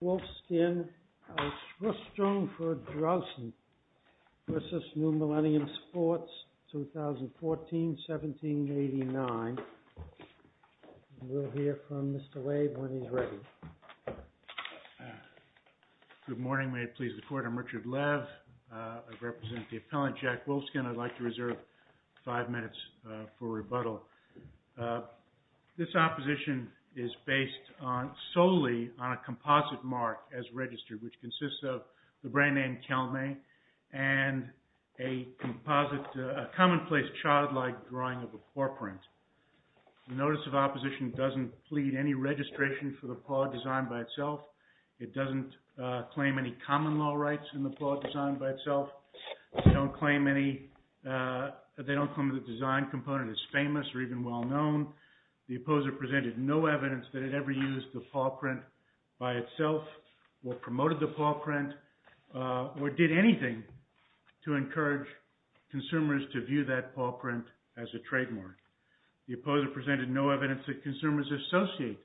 Wolfskin Ausrustung v. New Millennium Sports, S.L.U. 2014-17-89 We'll hear from Mr. Wave when he's ready. Good morning. May it please the Court, I'm Richard Lev. I represent the Appellant Jack Wolfskin. I'd like to reserve five minutes for rebuttal. This opposition is based solely on a composite mark as registered, which consists of the brand name Calumet, and a commonplace childlike drawing of a paw print. The notice of opposition doesn't plead any registration for the paw design by itself. It doesn't claim any common law rights in the paw design by itself. They don't claim the design component is famous or even well known. The opposer presented no evidence that it ever used the paw print by itself, or promoted the paw print, or did anything to encourage consumers to view that paw print as a trademark. The opposer presented no evidence that consumers associate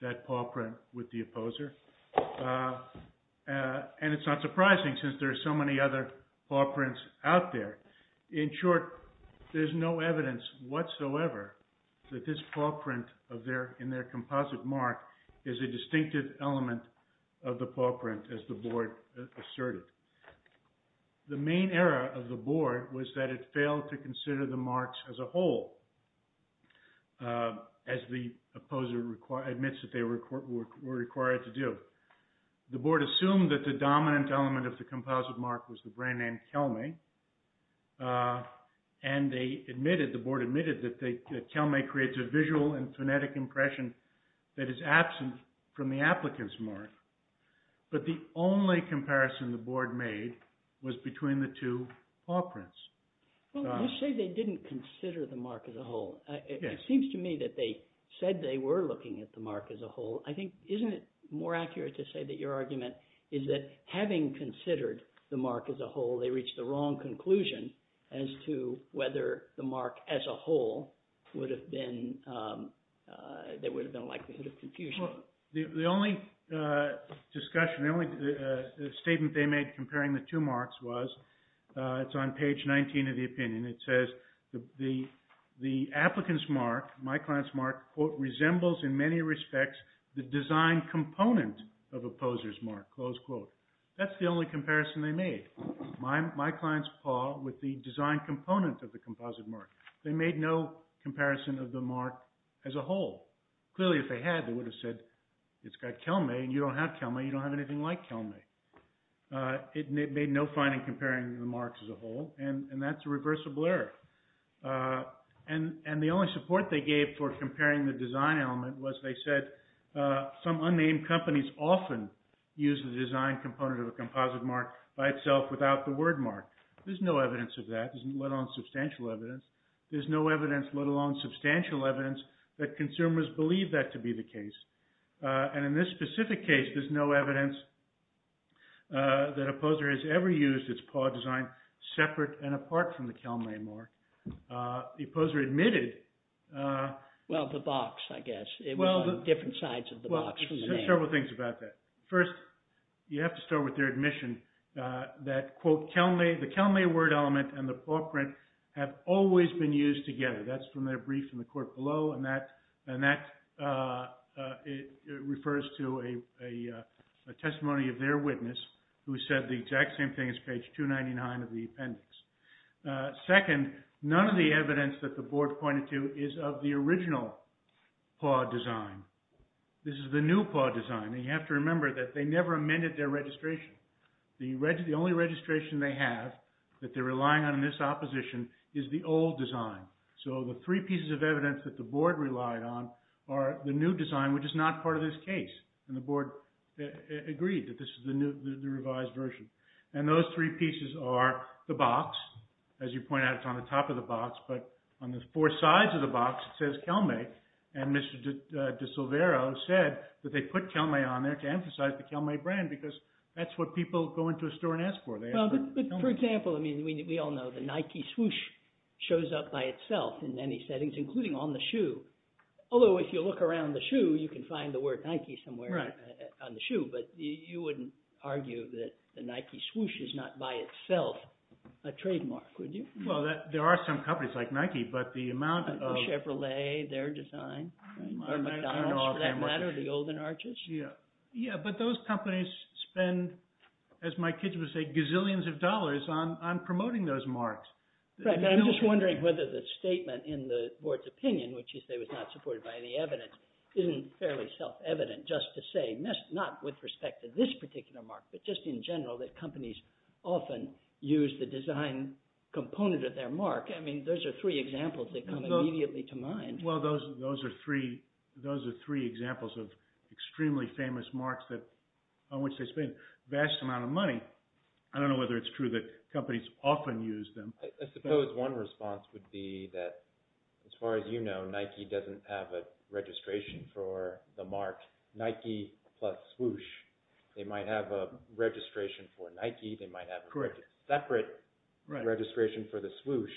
that paw print with the opposer. And it's not surprising, since there are so many other paw prints out there. In short, there's no evidence whatsoever that this paw print in their composite mark is a distinctive element of the paw print, as the Board asserted. The main error of the Board was that it failed to consider the marks as a whole, as the opposer admits that they were required to do. The Board assumed that the dominant element of the composite mark was the brand name Calumet, and the Board admitted that Calumet creates a visual and phonetic impression that is absent from the applicant's mark. But the only comparison the Board made was between the two paw prints. Well, you say they didn't consider the mark as a whole. It seems to me that they said they were looking at the mark as a whole. I think, isn't it more accurate to say that your argument is that having considered the mark as a whole, they reached the wrong conclusion as to whether the mark as a whole would have been, there would have been a likelihood of confusion? Well, the only discussion, the only statement they made comparing the two marks was, it's on page 19 of the opinion, it says the applicant's mark, my client's mark, quote, resembles in many respects the design component of opposer's mark, close quote. That's the only comparison they made. My client's paw with the design component of the composite mark. They made no comparison of the mark as a whole. Clearly, if they had, they would have said, it's got Kelme, and you don't have Kelme, you don't have anything like Kelme. It made no fine in comparing the marks as a whole, and that's a reversible error. And the only support they gave for comparing the design element was they said, some unnamed companies often use the design component of a composite mark by itself without the word mark. There's no evidence of that, let alone substantial evidence. There's no evidence, let alone substantial evidence, that consumers believe that to be the case. And in this specific case, there's no evidence that opposer has ever used its paw design separate and apart from the Kelme mark. The opposer admitted. Well, the box, I guess. It was on different sides of the box. Well, several things about that. First, you have to start with their admission that, quote, the Kelme word element and the paw print have always been used together. That's from their brief from the court below, and that refers to a testimony of their witness, who said the exact same thing as page 299 of the appendix. Second, none of the evidence that the board pointed to is of the original paw design. This is the new paw design. You have to remember that they never amended their registration. The only registration they have that they're relying on in this opposition is the old design. So the three pieces of evidence that the board relied on are the new design, which is not part of this case, and the board agreed that this is the revised version. And those three pieces are the box. As you point out, it's on the top of the box, but on the four sides of the box, it says Kelme, and Mr. DiSilvero said that they put Kelme on there to emphasize the Kelme brand because that's what people go into a store and ask for. For example, we all know the Nike swoosh shows up by itself in many settings, including on the shoe. Although if you look around the shoe, you can find the word Nike somewhere on the shoe, but you wouldn't argue that the Nike swoosh is not by itself a trademark, would you? Well, there are some companies like Nike, but the amount of— Or McDonald's, for that matter, the old and arches. Yeah, but those companies spend, as my kids would say, gazillions of dollars on promoting those marks. I'm just wondering whether the statement in the board's opinion, which you say was not supported by any evidence, isn't fairly self-evident just to say, not with respect to this particular mark, but just in general, that companies often use the design component of their mark. I mean, those are three examples that come immediately to mind. Well, those are three examples of extremely famous marks on which they spend a vast amount of money. I don't know whether it's true that companies often use them. I suppose one response would be that, as far as you know, Nike doesn't have a registration for the mark Nike plus swoosh. They might have a registration for Nike. They might have a separate registration for the swoosh,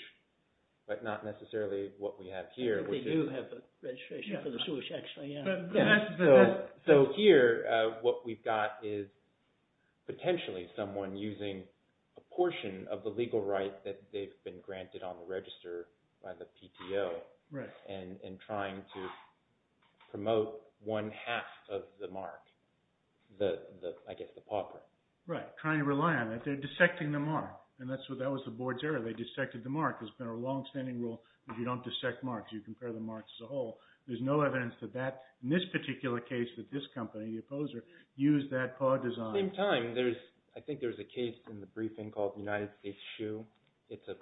but not necessarily what we have here. They do have a registration for the swoosh, actually, yeah. So here, what we've got is potentially someone using a portion of the legal rights that they've been granted on the register by the PTO and trying to promote one half of the mark, I guess the paw print. Right, trying to rely on it. They're dissecting the mark, and that was the board's error. They dissected the mark. There's been a longstanding rule that you don't dissect marks. You compare the marks as a whole. There's no evidence to that in this particular case that this company, the opposer, used that paw design. At the same time, I think there's a case in the briefing called United States Shoe. It's a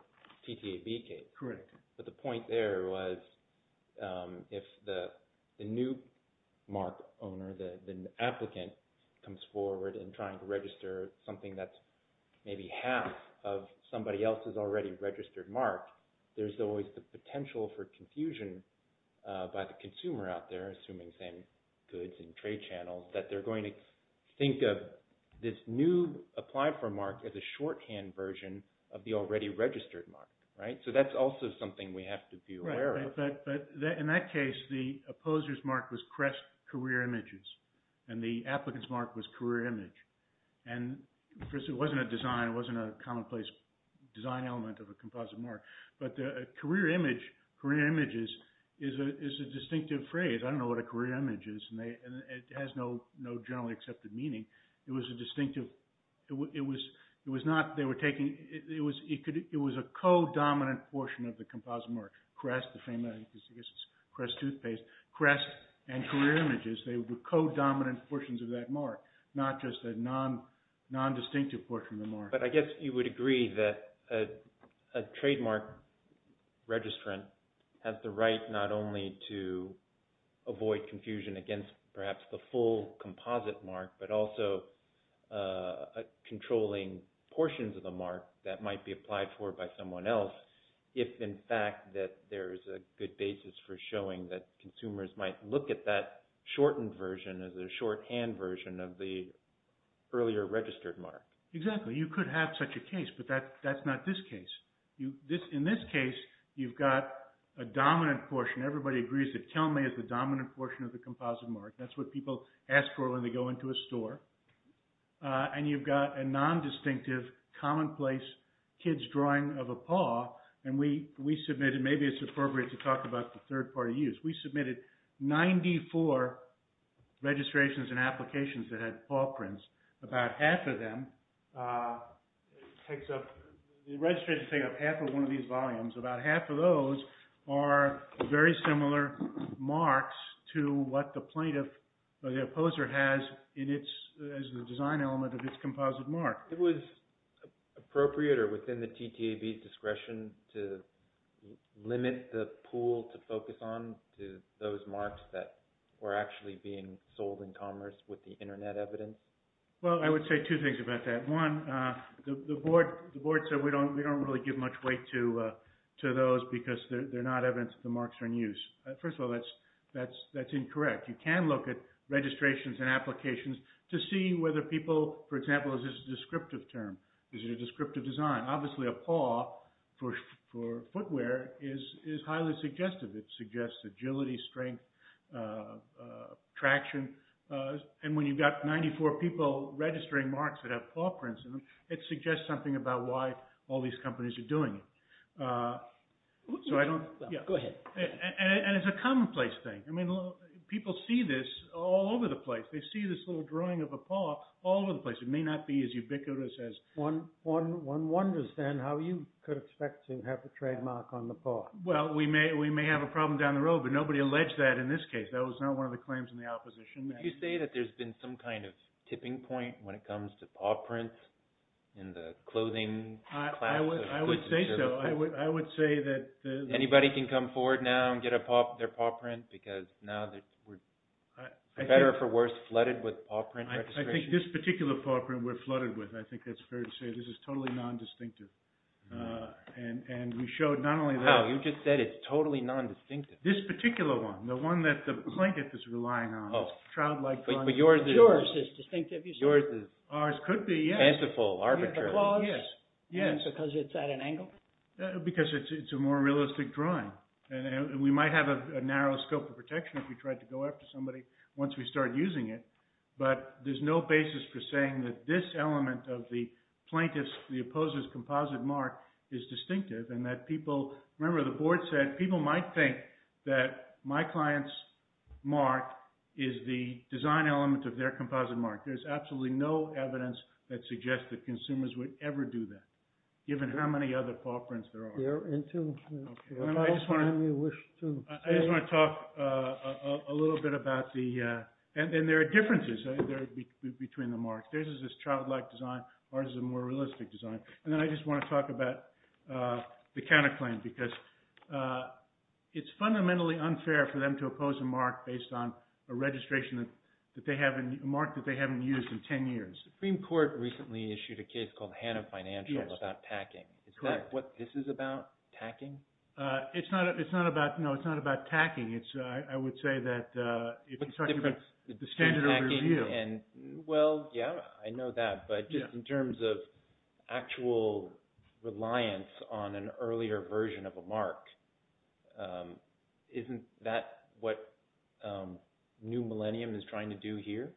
TTAB case. Correct. But the point there was if the new mark owner, the applicant, comes forward and trying to register something that's maybe half of somebody else's already registered mark, there's always the potential for confusion by the consumer out there, assuming same goods and trade channels, that they're going to think of this new apply for mark as a shorthand version of the already registered mark, right? So that's also something we have to be aware of. Right, but in that case, the opposer's mark was Crest Career Images, and the applicant's mark was Career Image. And first, it wasn't a design. It wasn't a commonplace design element of a composite mark. But Career Image, Career Images, is a distinctive phrase. I don't know what a career image is, and it has no generally accepted meaning. It was a co-dominant portion of the composite mark. Crest, the famous Crest toothpaste, Crest and Career Images, they were co-dominant portions of that mark, not just a non-distinctive portion of the mark. But I guess you would agree that a trademark registrant has the right not only to avoid confusion against perhaps the full composite mark, but also controlling portions of the mark that might be applied for by someone else, if in fact that there is a good basis for showing that consumers might look at that shortened version as a shorthand version of the earlier registered mark. Exactly. You could have such a case, but that's not this case. In this case, you've got a dominant portion. Everybody agrees that Telme is the dominant portion of the composite mark. That's what people ask for when they go into a store. And you've got a non-distinctive, commonplace kid's drawing of a paw. And we submitted, maybe it's appropriate to talk about the third party use. We submitted 94 registrations and applications that had paw prints. About half of them, the registration takes up half of one of these volumes. About half of those are very similar marks to what the plaintiff or the opposer has as the design element of this composite mark. It was appropriate or within the TTAB discretion to limit the pool to focus on to those marks that were actually being sold in commerce with the internet evidence? Well, I would say two things about that. One, the board said we don't really give much weight to those because they're not evidence that the marks are in use. First of all, that's incorrect. You can look at registrations and applications to see whether people, for example, is this a descriptive term? Is it a descriptive design? Obviously, a paw for footwear is highly suggestive. It suggests agility, strength, traction. And when you've got 94 people registering marks that have paw prints in them, it suggests something about why all these companies are doing it. Go ahead. And it's a commonplace thing. I mean, people see this all over the place. They see this little drawing of a paw all over the place. It may not be as ubiquitous as one wonders then how you could expect to have a trademark on the paw. Well, we may have a problem down the road, but nobody alleged that in this case. That was not one of the claims in the opposition. Did you say that there's been some kind of tipping point when it comes to paw prints in the clothing class? I would say so. Anybody can come forward now and get their paw print because now we're, for better or for worse, flooded with paw print registrations. I think this particular paw print we're flooded with. I think that's fair to say. This is totally nondistinctive. And we showed not only that. How? You just said it's totally nondistinctive. This particular one. The one that the blanket is relying on. Oh. Trout-like ones. Yours is distinctive. Yours is. Ours could be, yes. Tentaful. Arbitrary. Yes. Yes. And because it's at an angle? Because it's a more realistic drawing. And we might have a narrow scope of protection if we tried to go after somebody once we started using it. But there's no basis for saying that this element of the plaintiff's, the opposer's composite mark is distinctive. And that people, remember the board said people might think that my client's mark is the design element of their composite mark. There's absolutely no evidence that suggests that consumers would ever do that, given how many other paw prints there are. They're into it. Okay. I just want to talk a little bit about the – and there are differences between the marks. Theirs is this trout-like design. Ours is a more realistic design. And then I just want to talk about the counterclaim because it's fundamentally unfair for them to oppose a mark based on a registration that they have – that has been used in 10 years. The Supreme Court recently issued a case called Hanna Financial about tacking. Is that what this is about, tacking? It's not about – no, it's not about tacking. It's – I would say that if you're talking about the standard of review. Well, yeah, I know that. But just in terms of actual reliance on an earlier version of a mark, isn't that what New Millennium is trying to do here?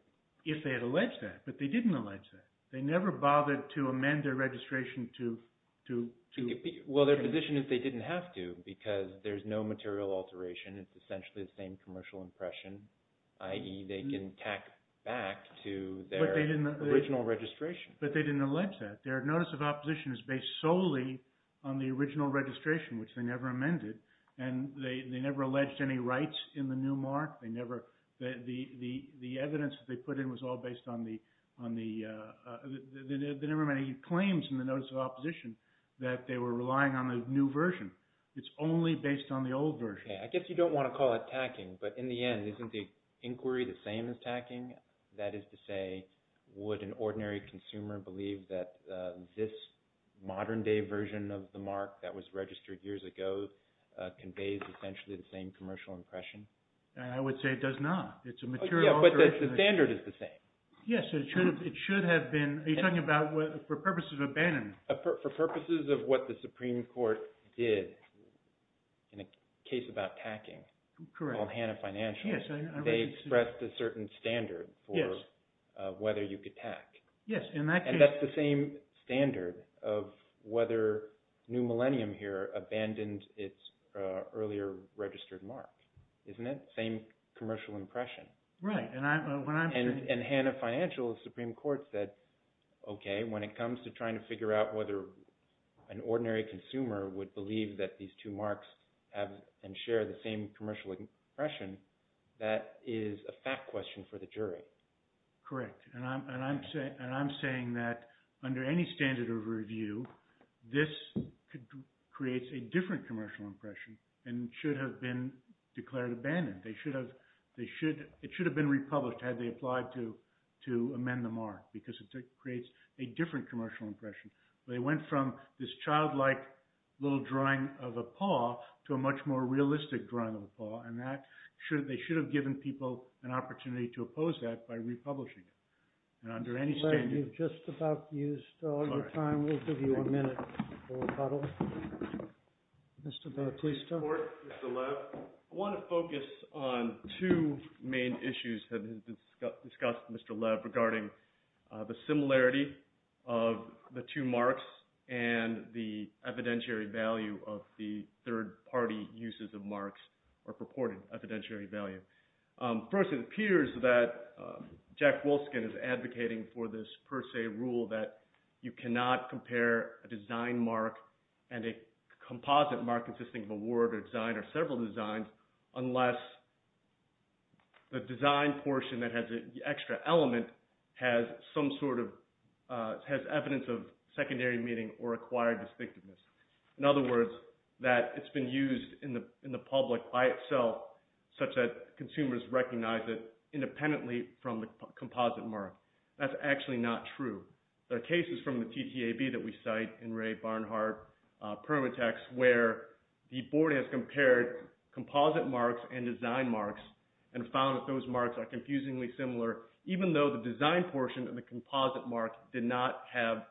If they had alleged that, but they didn't allege that. They never bothered to amend their registration to – Well, their position is they didn't have to because there's no material alteration. It's essentially the same commercial impression, i.e. they can tack back to their original registration. But they didn't allege that. Their notice of opposition is based solely on the original registration, which they never amended. And they never alleged any rights in the new mark. They never – the evidence that they put in was all based on the – they never made any claims in the notice of opposition that they were relying on the new version. It's only based on the old version. I guess you don't want to call it tacking, but in the end, isn't the inquiry the same as tacking? That is to say, would an ordinary consumer believe that this modern-day version of the mark that was registered years ago conveys essentially the same commercial impression? I would say it does not. It's a material alteration. But the standard is the same. Yes. It should have been – are you talking about for purposes of abandonment? For purposes of what the Supreme Court did in a case about tacking called Hanna Financial. They expressed a certain standard for whether you could tack. Yes. But Hanna Financial never abandoned its earlier registered mark, isn't it? Same commercial impression. Right. And Hanna Financial, the Supreme Court said, okay, when it comes to trying to figure out whether an ordinary consumer would believe that these two marks have and share the same commercial impression, that is a fact question for the jury. Correct. And I'm saying that under any standard of review, this creates a different commercial impression and should have been declared abandoned. They should have – it should have been republished had they applied to amend the mark because it creates a different commercial impression. They went from this childlike little drawing of a paw to a much more realistic drawing of a paw and that – they should have given people an opportunity to oppose that by republishing it. And under any standard – Lev, you've just about used all your time. We'll give you a minute for rebuttal. Mr. Baer, please. Mr. Lev, I want to focus on two main issues that have been discussed with Mr. Lev regarding the similarity of the two marks and the evidentiary value of the third party uses of marks or purported evidentiary value. First, it appears that Jack Wolfskin is advocating for this per se rule that you cannot compare a design mark and a composite mark consisting of a word or design or several designs unless the design portion that has the extra element has some sort of – has evidence of secondary meaning or acquired distinctiveness. In other words, that it's been used in the public by itself such that consumers recognize it independently from the composite mark. That's actually not true. There are cases from the TTAB that we cite in Ray Barnhart Permatex where the board has compared composite marks and design marks and found that those marks are confusingly similar even though the design portion of the composite mark did not have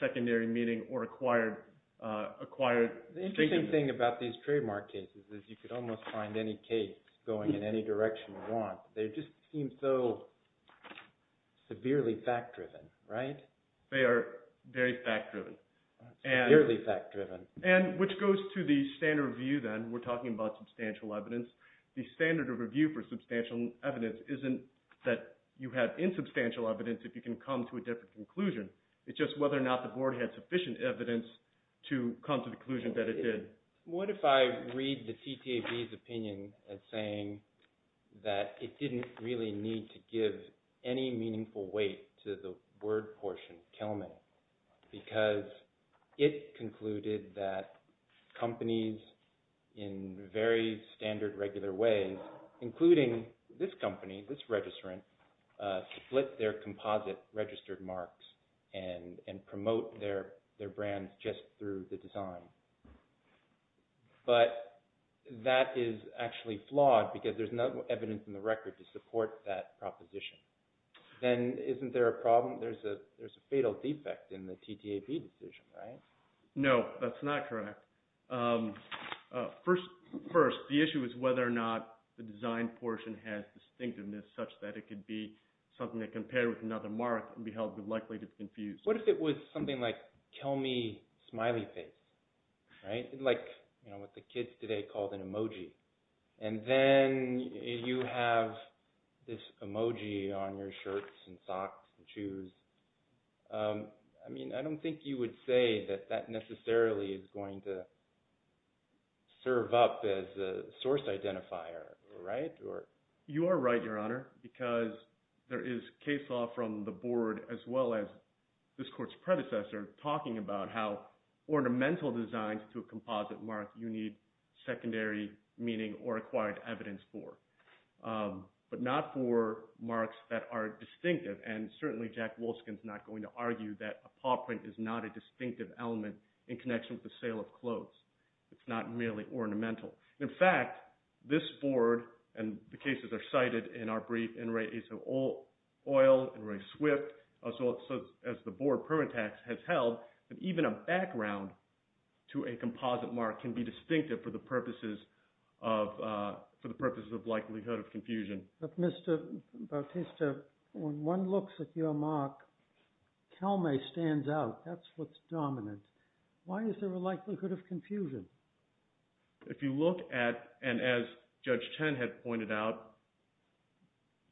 secondary meaning or acquired distinctiveness. The interesting thing about these trademark cases is you could almost find any case going in any direction you want. They just seem so severely fact-driven, right? They are very fact-driven. Severely fact-driven. And which goes to the standard of view then. We're talking about substantial evidence. The standard of review for substantial evidence isn't that you have insubstantial evidence if you can come to a different conclusion. It's just whether or not the board had sufficient evidence to come to the conclusion that it did. What if I read the TTAB's opinion as saying that it didn't really need to give any meaningful weight to the word portion, Kelman, because it concluded that companies in very standard regular ways, including this company, this registrant, split their composite registered marks and promote their brand just through the design. But that is actually flawed because there's no evidence in the record to support that proposition. Then isn't there a problem? There's a fatal defect in the TTAB decision, right? No, that's not correct. First, the issue is whether or not the design portion has distinctiveness such that it could be something that compared with another mark and be held likely to be confused. What if it was something like Kelmy smiley face? Like what the kids today called an emoji. And then you have this emoji on your shirts and socks and shoes. I mean, I don't think you would say that that necessarily is going to serve up as a source identifier, right? You are right, Your Honor, because there is case law from the board as well as this court's predecessor talking about how ornamental designs to a composite mark you need secondary meaning or acquired evidence for, but not for marks that are distinctive. And certainly Jack Wolskin is not going to argue that a paw print is not a distinctive element in connection with the sale of clothes. It's not merely ornamental. In fact, this board, and the cases are cited in our brief, in Ray Aso-Oil, in Ray Swift, as the board permit tax has held, that even a background to a composite mark can be distinctive for the purposes of likelihood of confusion. But Mr. Bautista, when one looks at your mark, Kelmy stands out. That's what's dominant. If you look at – and as Judge Chen had pointed out,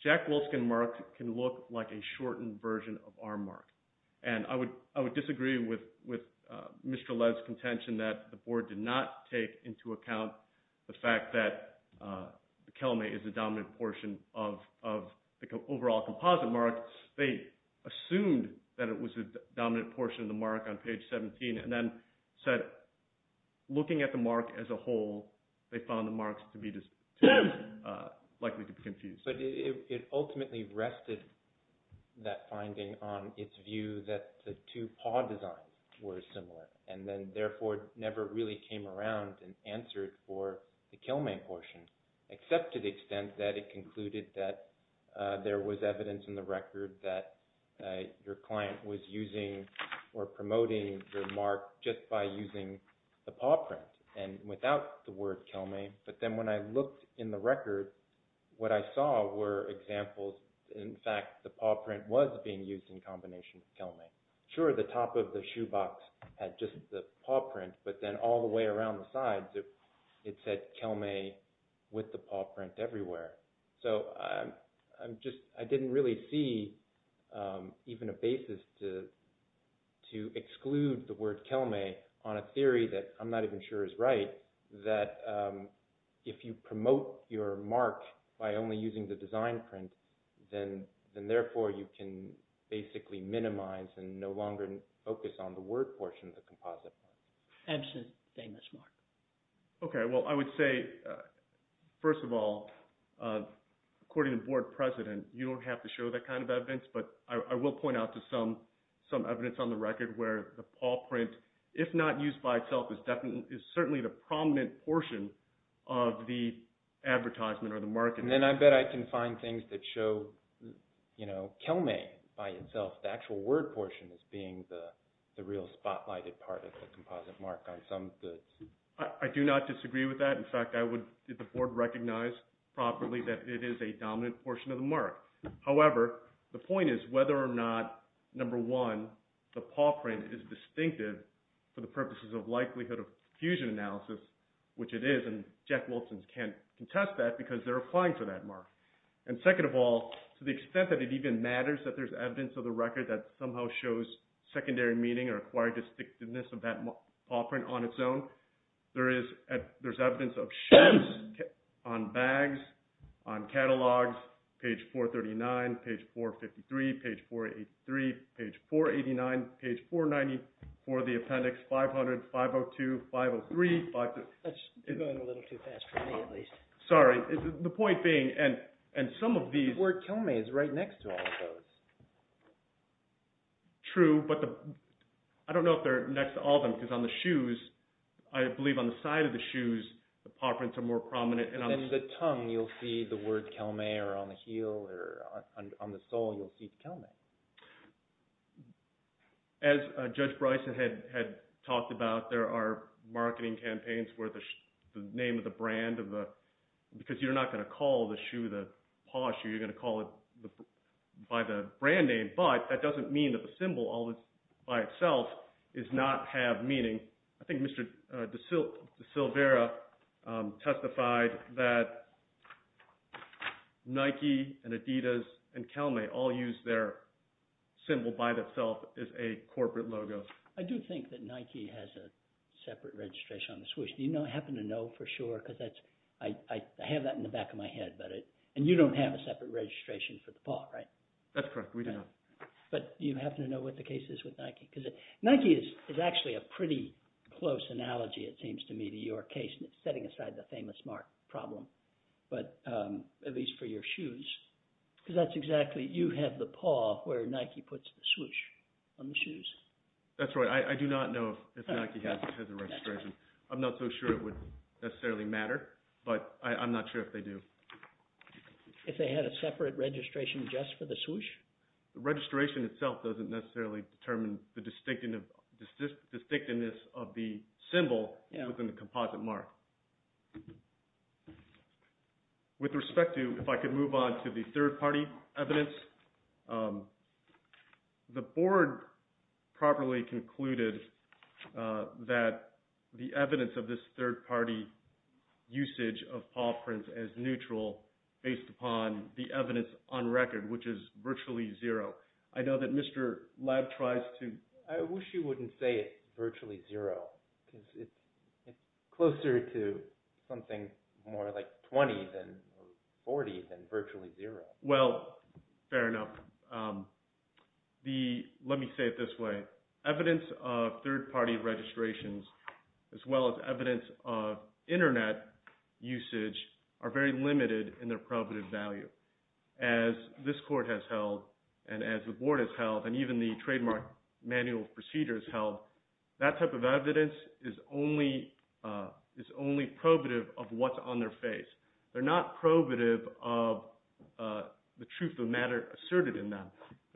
Jack Wolskin's mark can look like a shortened version of our mark. And I would disagree with Mr. Led's contention that the board did not take into account the fact that Kelmy is the dominant portion of the overall composite mark. They assumed that it was the dominant portion of the mark on page 17 and then said looking at the mark as a whole, they found the marks to be likely to be confused. But it ultimately rested that finding on its view that the two paw designs were similar and then therefore never really came around and answered for the Kelmy portion, except to the extent that it concluded that there was evidence in the record that your client was using or promoting the mark just by using the paw print and without the word Kelmy. But then when I looked in the record, what I saw were examples. In fact, the paw print was being used in combination with Kelmy. Sure, the top of the shoe box had just the paw print, but then all the way around the sides, it said Kelmy with the paw print everywhere. So I didn't really see even a basis to exclude the word Kelmy on a theory that I'm not even sure is right, that if you promote your mark by only using the design print, then therefore you can basically minimize and no longer focus on the word portion of the composite mark. Ebsen's famous mark. Okay, well, I would say, first of all, according to Board President, you don't have to show that kind of evidence. But I will point out to some evidence on the record where the paw print, if not used by itself, is certainly the prominent portion of the advertisement or the marketing. And then I bet I can find things that show Kelmy by itself, the actual word portion as being the real spotlighted part of the composite mark on some goods. I do not disagree with that. In fact, I would, if the Board recognized properly that it is a dominant portion of the mark. However, the point is whether or not, number one, the paw print is distinctive for the purposes of likelihood of fusion analysis, which it is, and Jack Wilson can't contest that because they're applying for that mark. Page 439, page 453, page 483, page 489, page 490 for the appendix 500, 502, 503. That's going a little too fast for me at least. Sorry. The point being, and some of these – The word Kelmy is right next to all of those. True, but I don't know if they're next to all of them because on the shoes, I believe on the side of the shoes, the paw prints are more prominent. In the tongue, you'll see the word Kelmy or on the heel or on the sole, you'll see Kelmy. As Judge Bryson had talked about, there are marketing campaigns where the name of the brand of the – because you're not going to call the shoe the paw shoe. You're going to call it by the brand name, but that doesn't mean that the symbol all by itself does not have meaning. I think Mr. DeSilvera testified that Nike and Adidas and Kelmy all use their symbol by itself as a corporate logo. I do think that Nike has a separate registration on the Swoosh. Do you happen to know for sure because that's – I have that in the back of my head, and you don't have a separate registration for the paw, right? That's correct. We do not. But do you happen to know what the case is with Nike? Because Nike is actually a pretty close analogy, it seems to me, to your case in setting aside the Famous Mark problem, but at least for your shoes. Because that's exactly – you have the paw where Nike puts the Swoosh on the shoes. That's right. I do not know if Nike has a registration. I'm not so sure it would necessarily matter, but I'm not sure if they do. If they had a separate registration just for the Swoosh? The registration itself doesn't necessarily determine the distinctiveness of the symbol within the composite mark. With respect to – if I could move on to the third-party evidence. The board properly concluded that the evidence of this third-party usage of paw prints as neutral based upon the evidence on record, which is virtually zero. I know that Mr. Labb tries to – I wish you wouldn't say it's virtually zero because it's closer to something more like 20 or 40 than virtually zero. Well, fair enough. Let me say it this way. Evidence of third-party registrations as well as evidence of internet usage are very limited in their probative value. As this court has held, and as the board has held, and even the trademark manual of procedures held, that type of evidence is only probative of what's on their face. They're not probative of the truth of the matter asserted in them,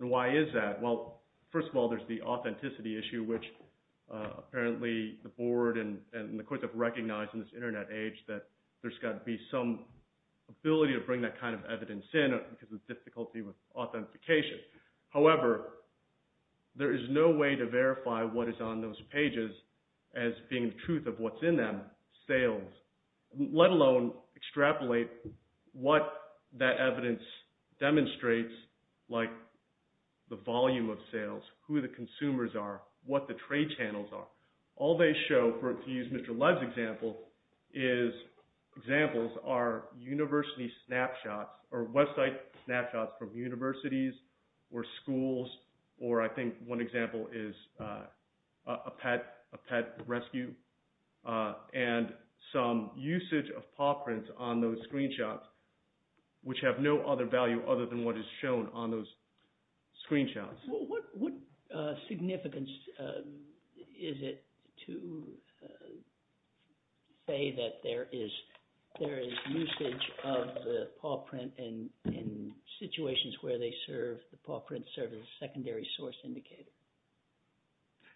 and why is that? Well, first of all, there's the authenticity issue, which apparently the board and the courts have recognized in this internet age that there's got to be some ability to bring that kind of evidence in because of the difficulty with authentication. However, there is no way to verify what is on those pages as being the truth of what's in them, sales, let alone extrapolate what that evidence demonstrates like the volume of sales, who the consumers are, what the trade channels are. All they show, to use Mr. Lev's example, is examples are university snapshots or website snapshots from universities or schools, or I think one example is a pet rescue, and some usage of paw prints on those screenshots, which have no other value other than what is shown on those screenshots. What significance is it to say that there is usage of the paw print in situations where the paw prints serve as a secondary source indicator?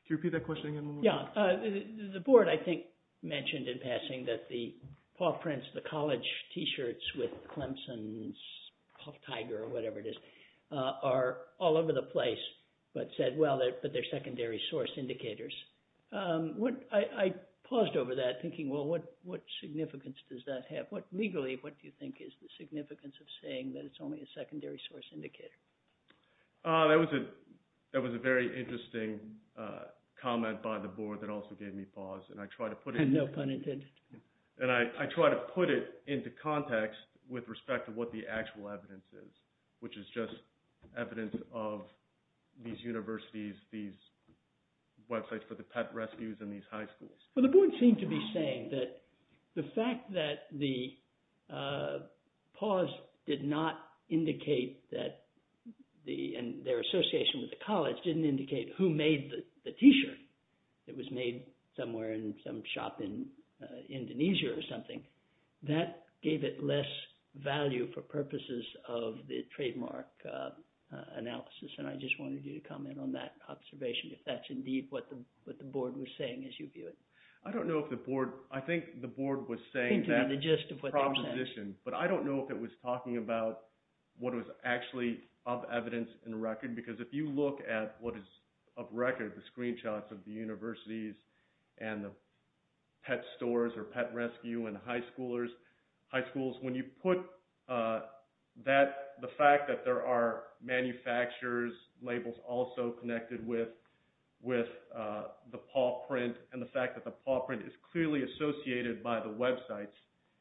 Could you repeat that question again one more time? The board, I think, mentioned in passing that the paw prints, the college t-shirts with Clemson's puff tiger or whatever it is, are all over the place, but said, well, they're secondary source indicators. I paused over that thinking, well, what significance does that have? Legally, what do you think is the significance of saying that it's only a secondary source indicator? That was a very interesting comment by the board that also gave me pause, and I try to put it into context with respect to what the actual evidence is, which is just evidence of these universities, these websites for the pet rescues in these high schools. Well, the board seemed to be saying that the fact that the pause did not indicate that, and their association with the college didn't indicate who made the t-shirt. It was made somewhere in some shop in Indonesia or something. That gave it less value for purposes of the trademark analysis, and I just wanted you to comment on that observation, if that's indeed what the board was saying as you view it. I don't know if the board – I think the board was saying that proposition, but I don't know if it was talking about what was actually of evidence and record, because if you look at what is of record, the screenshots of the universities and the pet stores or pet rescue and high schools, when you put that – the fact that there are manufacturers' labels also connected with the paw print and the fact that the paw print is clearly associated by the websites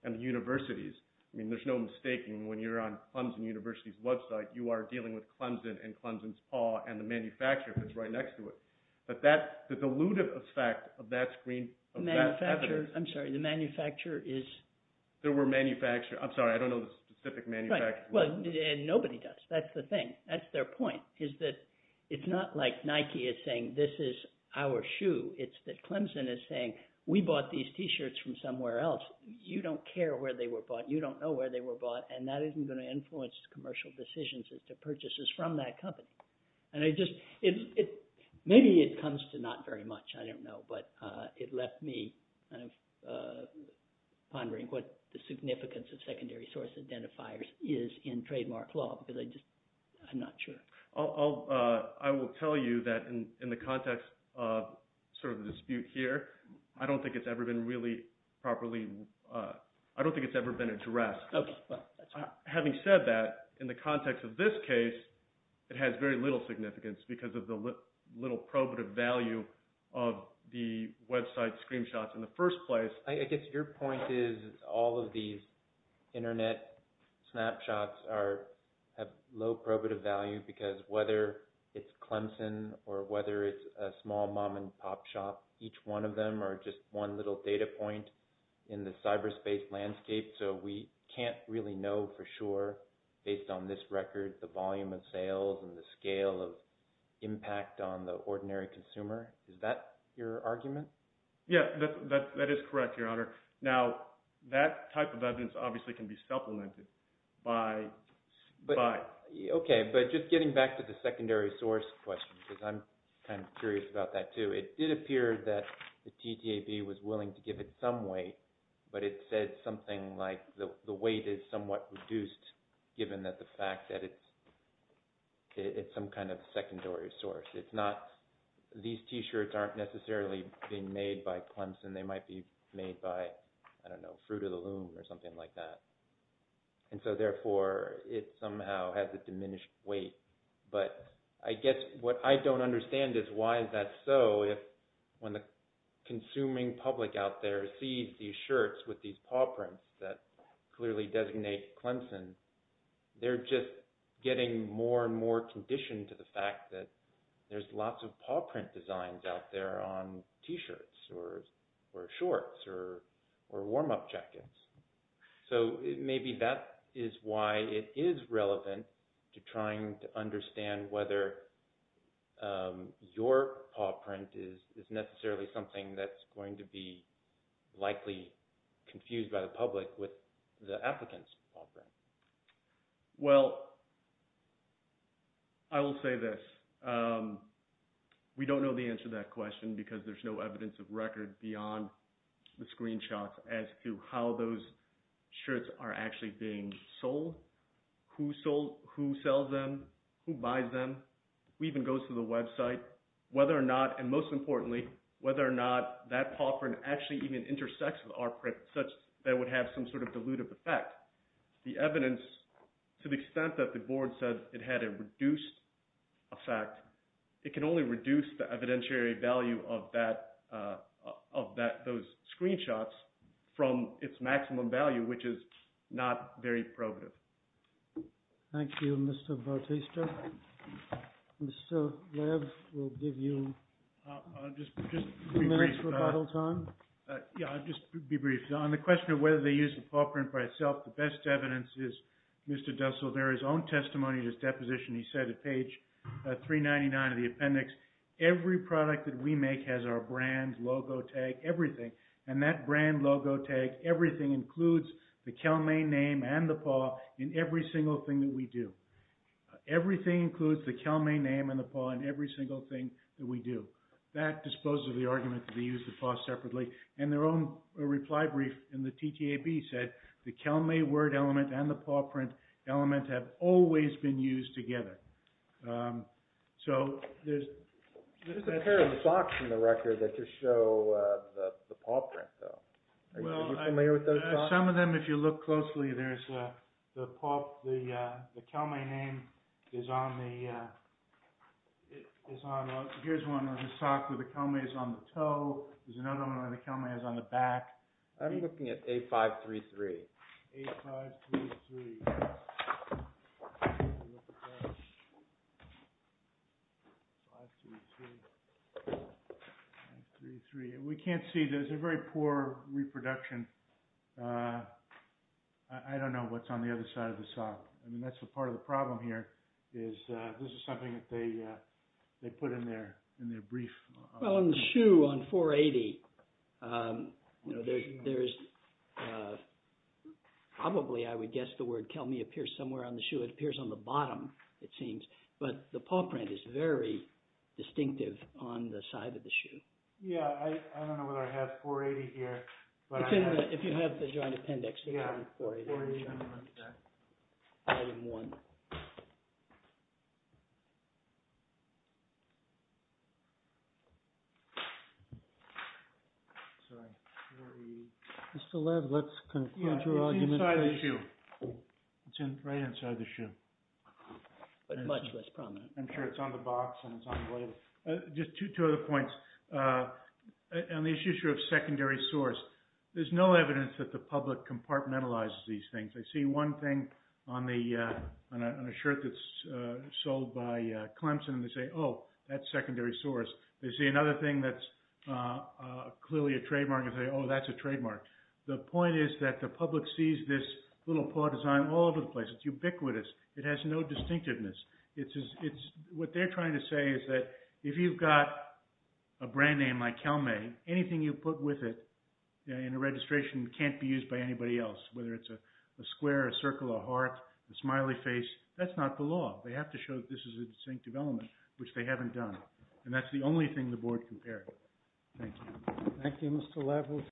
and the universities. I mean there's no mistaking when you're on Clemson University's website, you are dealing with Clemson and Clemson's paw and the manufacturer that's right next to it. But that – the dilutive effect of that screen – Manufacturer – I'm sorry, the manufacturer is – There were manufacturers – I'm sorry, I don't know the specific manufacturer. Well, nobody does. That's the thing. That's their point, is that it's not like Nike is saying, this is our shoe. It's that Clemson is saying, we bought these T-shirts from somewhere else. You don't care where they were bought. You don't know where they were bought, and that isn't going to influence commercial decisions as to purchases from that company. And I just – maybe it comes to not very much. I don't know. But it left me kind of pondering what the significance of secondary source identifiers is in trademark law because I just – I'm not sure. I will tell you that in the context of sort of the dispute here, I don't think it's ever been really properly – I don't think it's ever been addressed. Okay. Having said that, in the context of this case, it has very little significance because of the little probative value of the website screenshots in the first place. I guess your point is all of these internet snapshots are – have low probative value because whether it's Clemson or whether it's a small mom-and-pop shop, each one of them are just one little data point in the cyberspace landscape. So we can't really know for sure based on this record the volume of sales and the scale of impact on the ordinary consumer. Is that your argument? Yeah, that is correct, Your Honor. Now, that type of evidence obviously can be supplemented by – Okay, but just getting back to the secondary source question because I'm kind of curious about that too. It did appear that the TTAB was willing to give it some weight, but it said something like the weight is somewhat reduced given that the fact that it's some kind of secondary source. It's not – these T-shirts aren't necessarily being made by Clemson. They might be made by, I don't know, Fruit of the Loom or something like that. And so therefore, it somehow has a diminished weight. But I guess what I don't understand is why is that so if when the consuming public out there sees these shirts with these paw prints that clearly designate Clemson, they're just getting more and more conditioned to the fact that there's lots of paw print designs out there on T-shirts or shorts or warm-up jackets. So maybe that is why it is relevant to trying to understand whether your paw print is necessarily something that's going to be likely confused by the public with the applicant's paw print. Well, I will say this. We don't know the answer to that question because there's no evidence of record beyond the screenshots as to how those shirts are actually being sold, who sells them, who buys them, who even goes to the website, whether or not – and most importantly, whether or not that paw print actually even intersects with our print such that it would have some sort of dilutive effect. The evidence, to the extent that the board says it had a reduced effect, it can only reduce the evidentiary value of those screenshots from its maximum value, which is not very probative. Thank you, Mr. Bautista. Mr. Lev, we'll give you two minutes for bottle time. Yeah, I'll just be brief. On the question of whether they use the paw print by itself, the best evidence is Mr. Dussel. There is own testimony to this deposition. He said at page 399 of the appendix, every product that we make has our brand, logo, tag, everything. And that brand, logo, tag, everything includes the Cal-May name and the paw in every single thing that we do. Everything includes the Cal-May name and the paw in every single thing that we do. That disposes of the argument that they use the paw separately. And their own reply brief in the TTAB said the Cal-May word element and the paw print element have always been used together. There's a pair of socks in the record that just show the paw print, though. Are you familiar with those socks? Some of them, if you look closely, the Cal-May name is on the toe. There's another one where the Cal-May is on the back. I'm looking at A533. A533. A533. We can't see. There's a very poor reproduction. I don't know what's on the other side of the sock. I mean, that's part of the problem here is this is something that they put in their brief. Well, on the shoe on 480, there's probably, I would guess, the word Cal-May appears somewhere on the shoe. It appears on the bottom, it seems. But the paw print is very distinctive on the side of the shoe. Yeah, I don't know whether I have 480 here. If you have the joint appendix. Item 1. Mr. Lev, let's conclude your argument. Yeah, it's inside the shoe. It's right inside the shoe. But much less prominent. I'm sure it's on the box and it's on the label. Just two other points. On the issue of secondary source, there's no evidence that the public compartmentalizes these things. I see one thing on a shirt that's sold by Clemson and they say, oh, that's secondary source. They see another thing that's clearly a trademark and say, oh, that's a trademark. The point is that the public sees this little paw design all over the place. It's ubiquitous. It has no distinctiveness. What they're trying to say is that if you've got a brand name like Cal-May, anything you put with it in a registration can't be used by anybody else, whether it's a square, a circle, a heart, a smiley face. That's not the law. They have to show that this is a distinctive element, which they haven't done. And that's the only thing the board compared. Thank you. Thank you, Mr. Lev.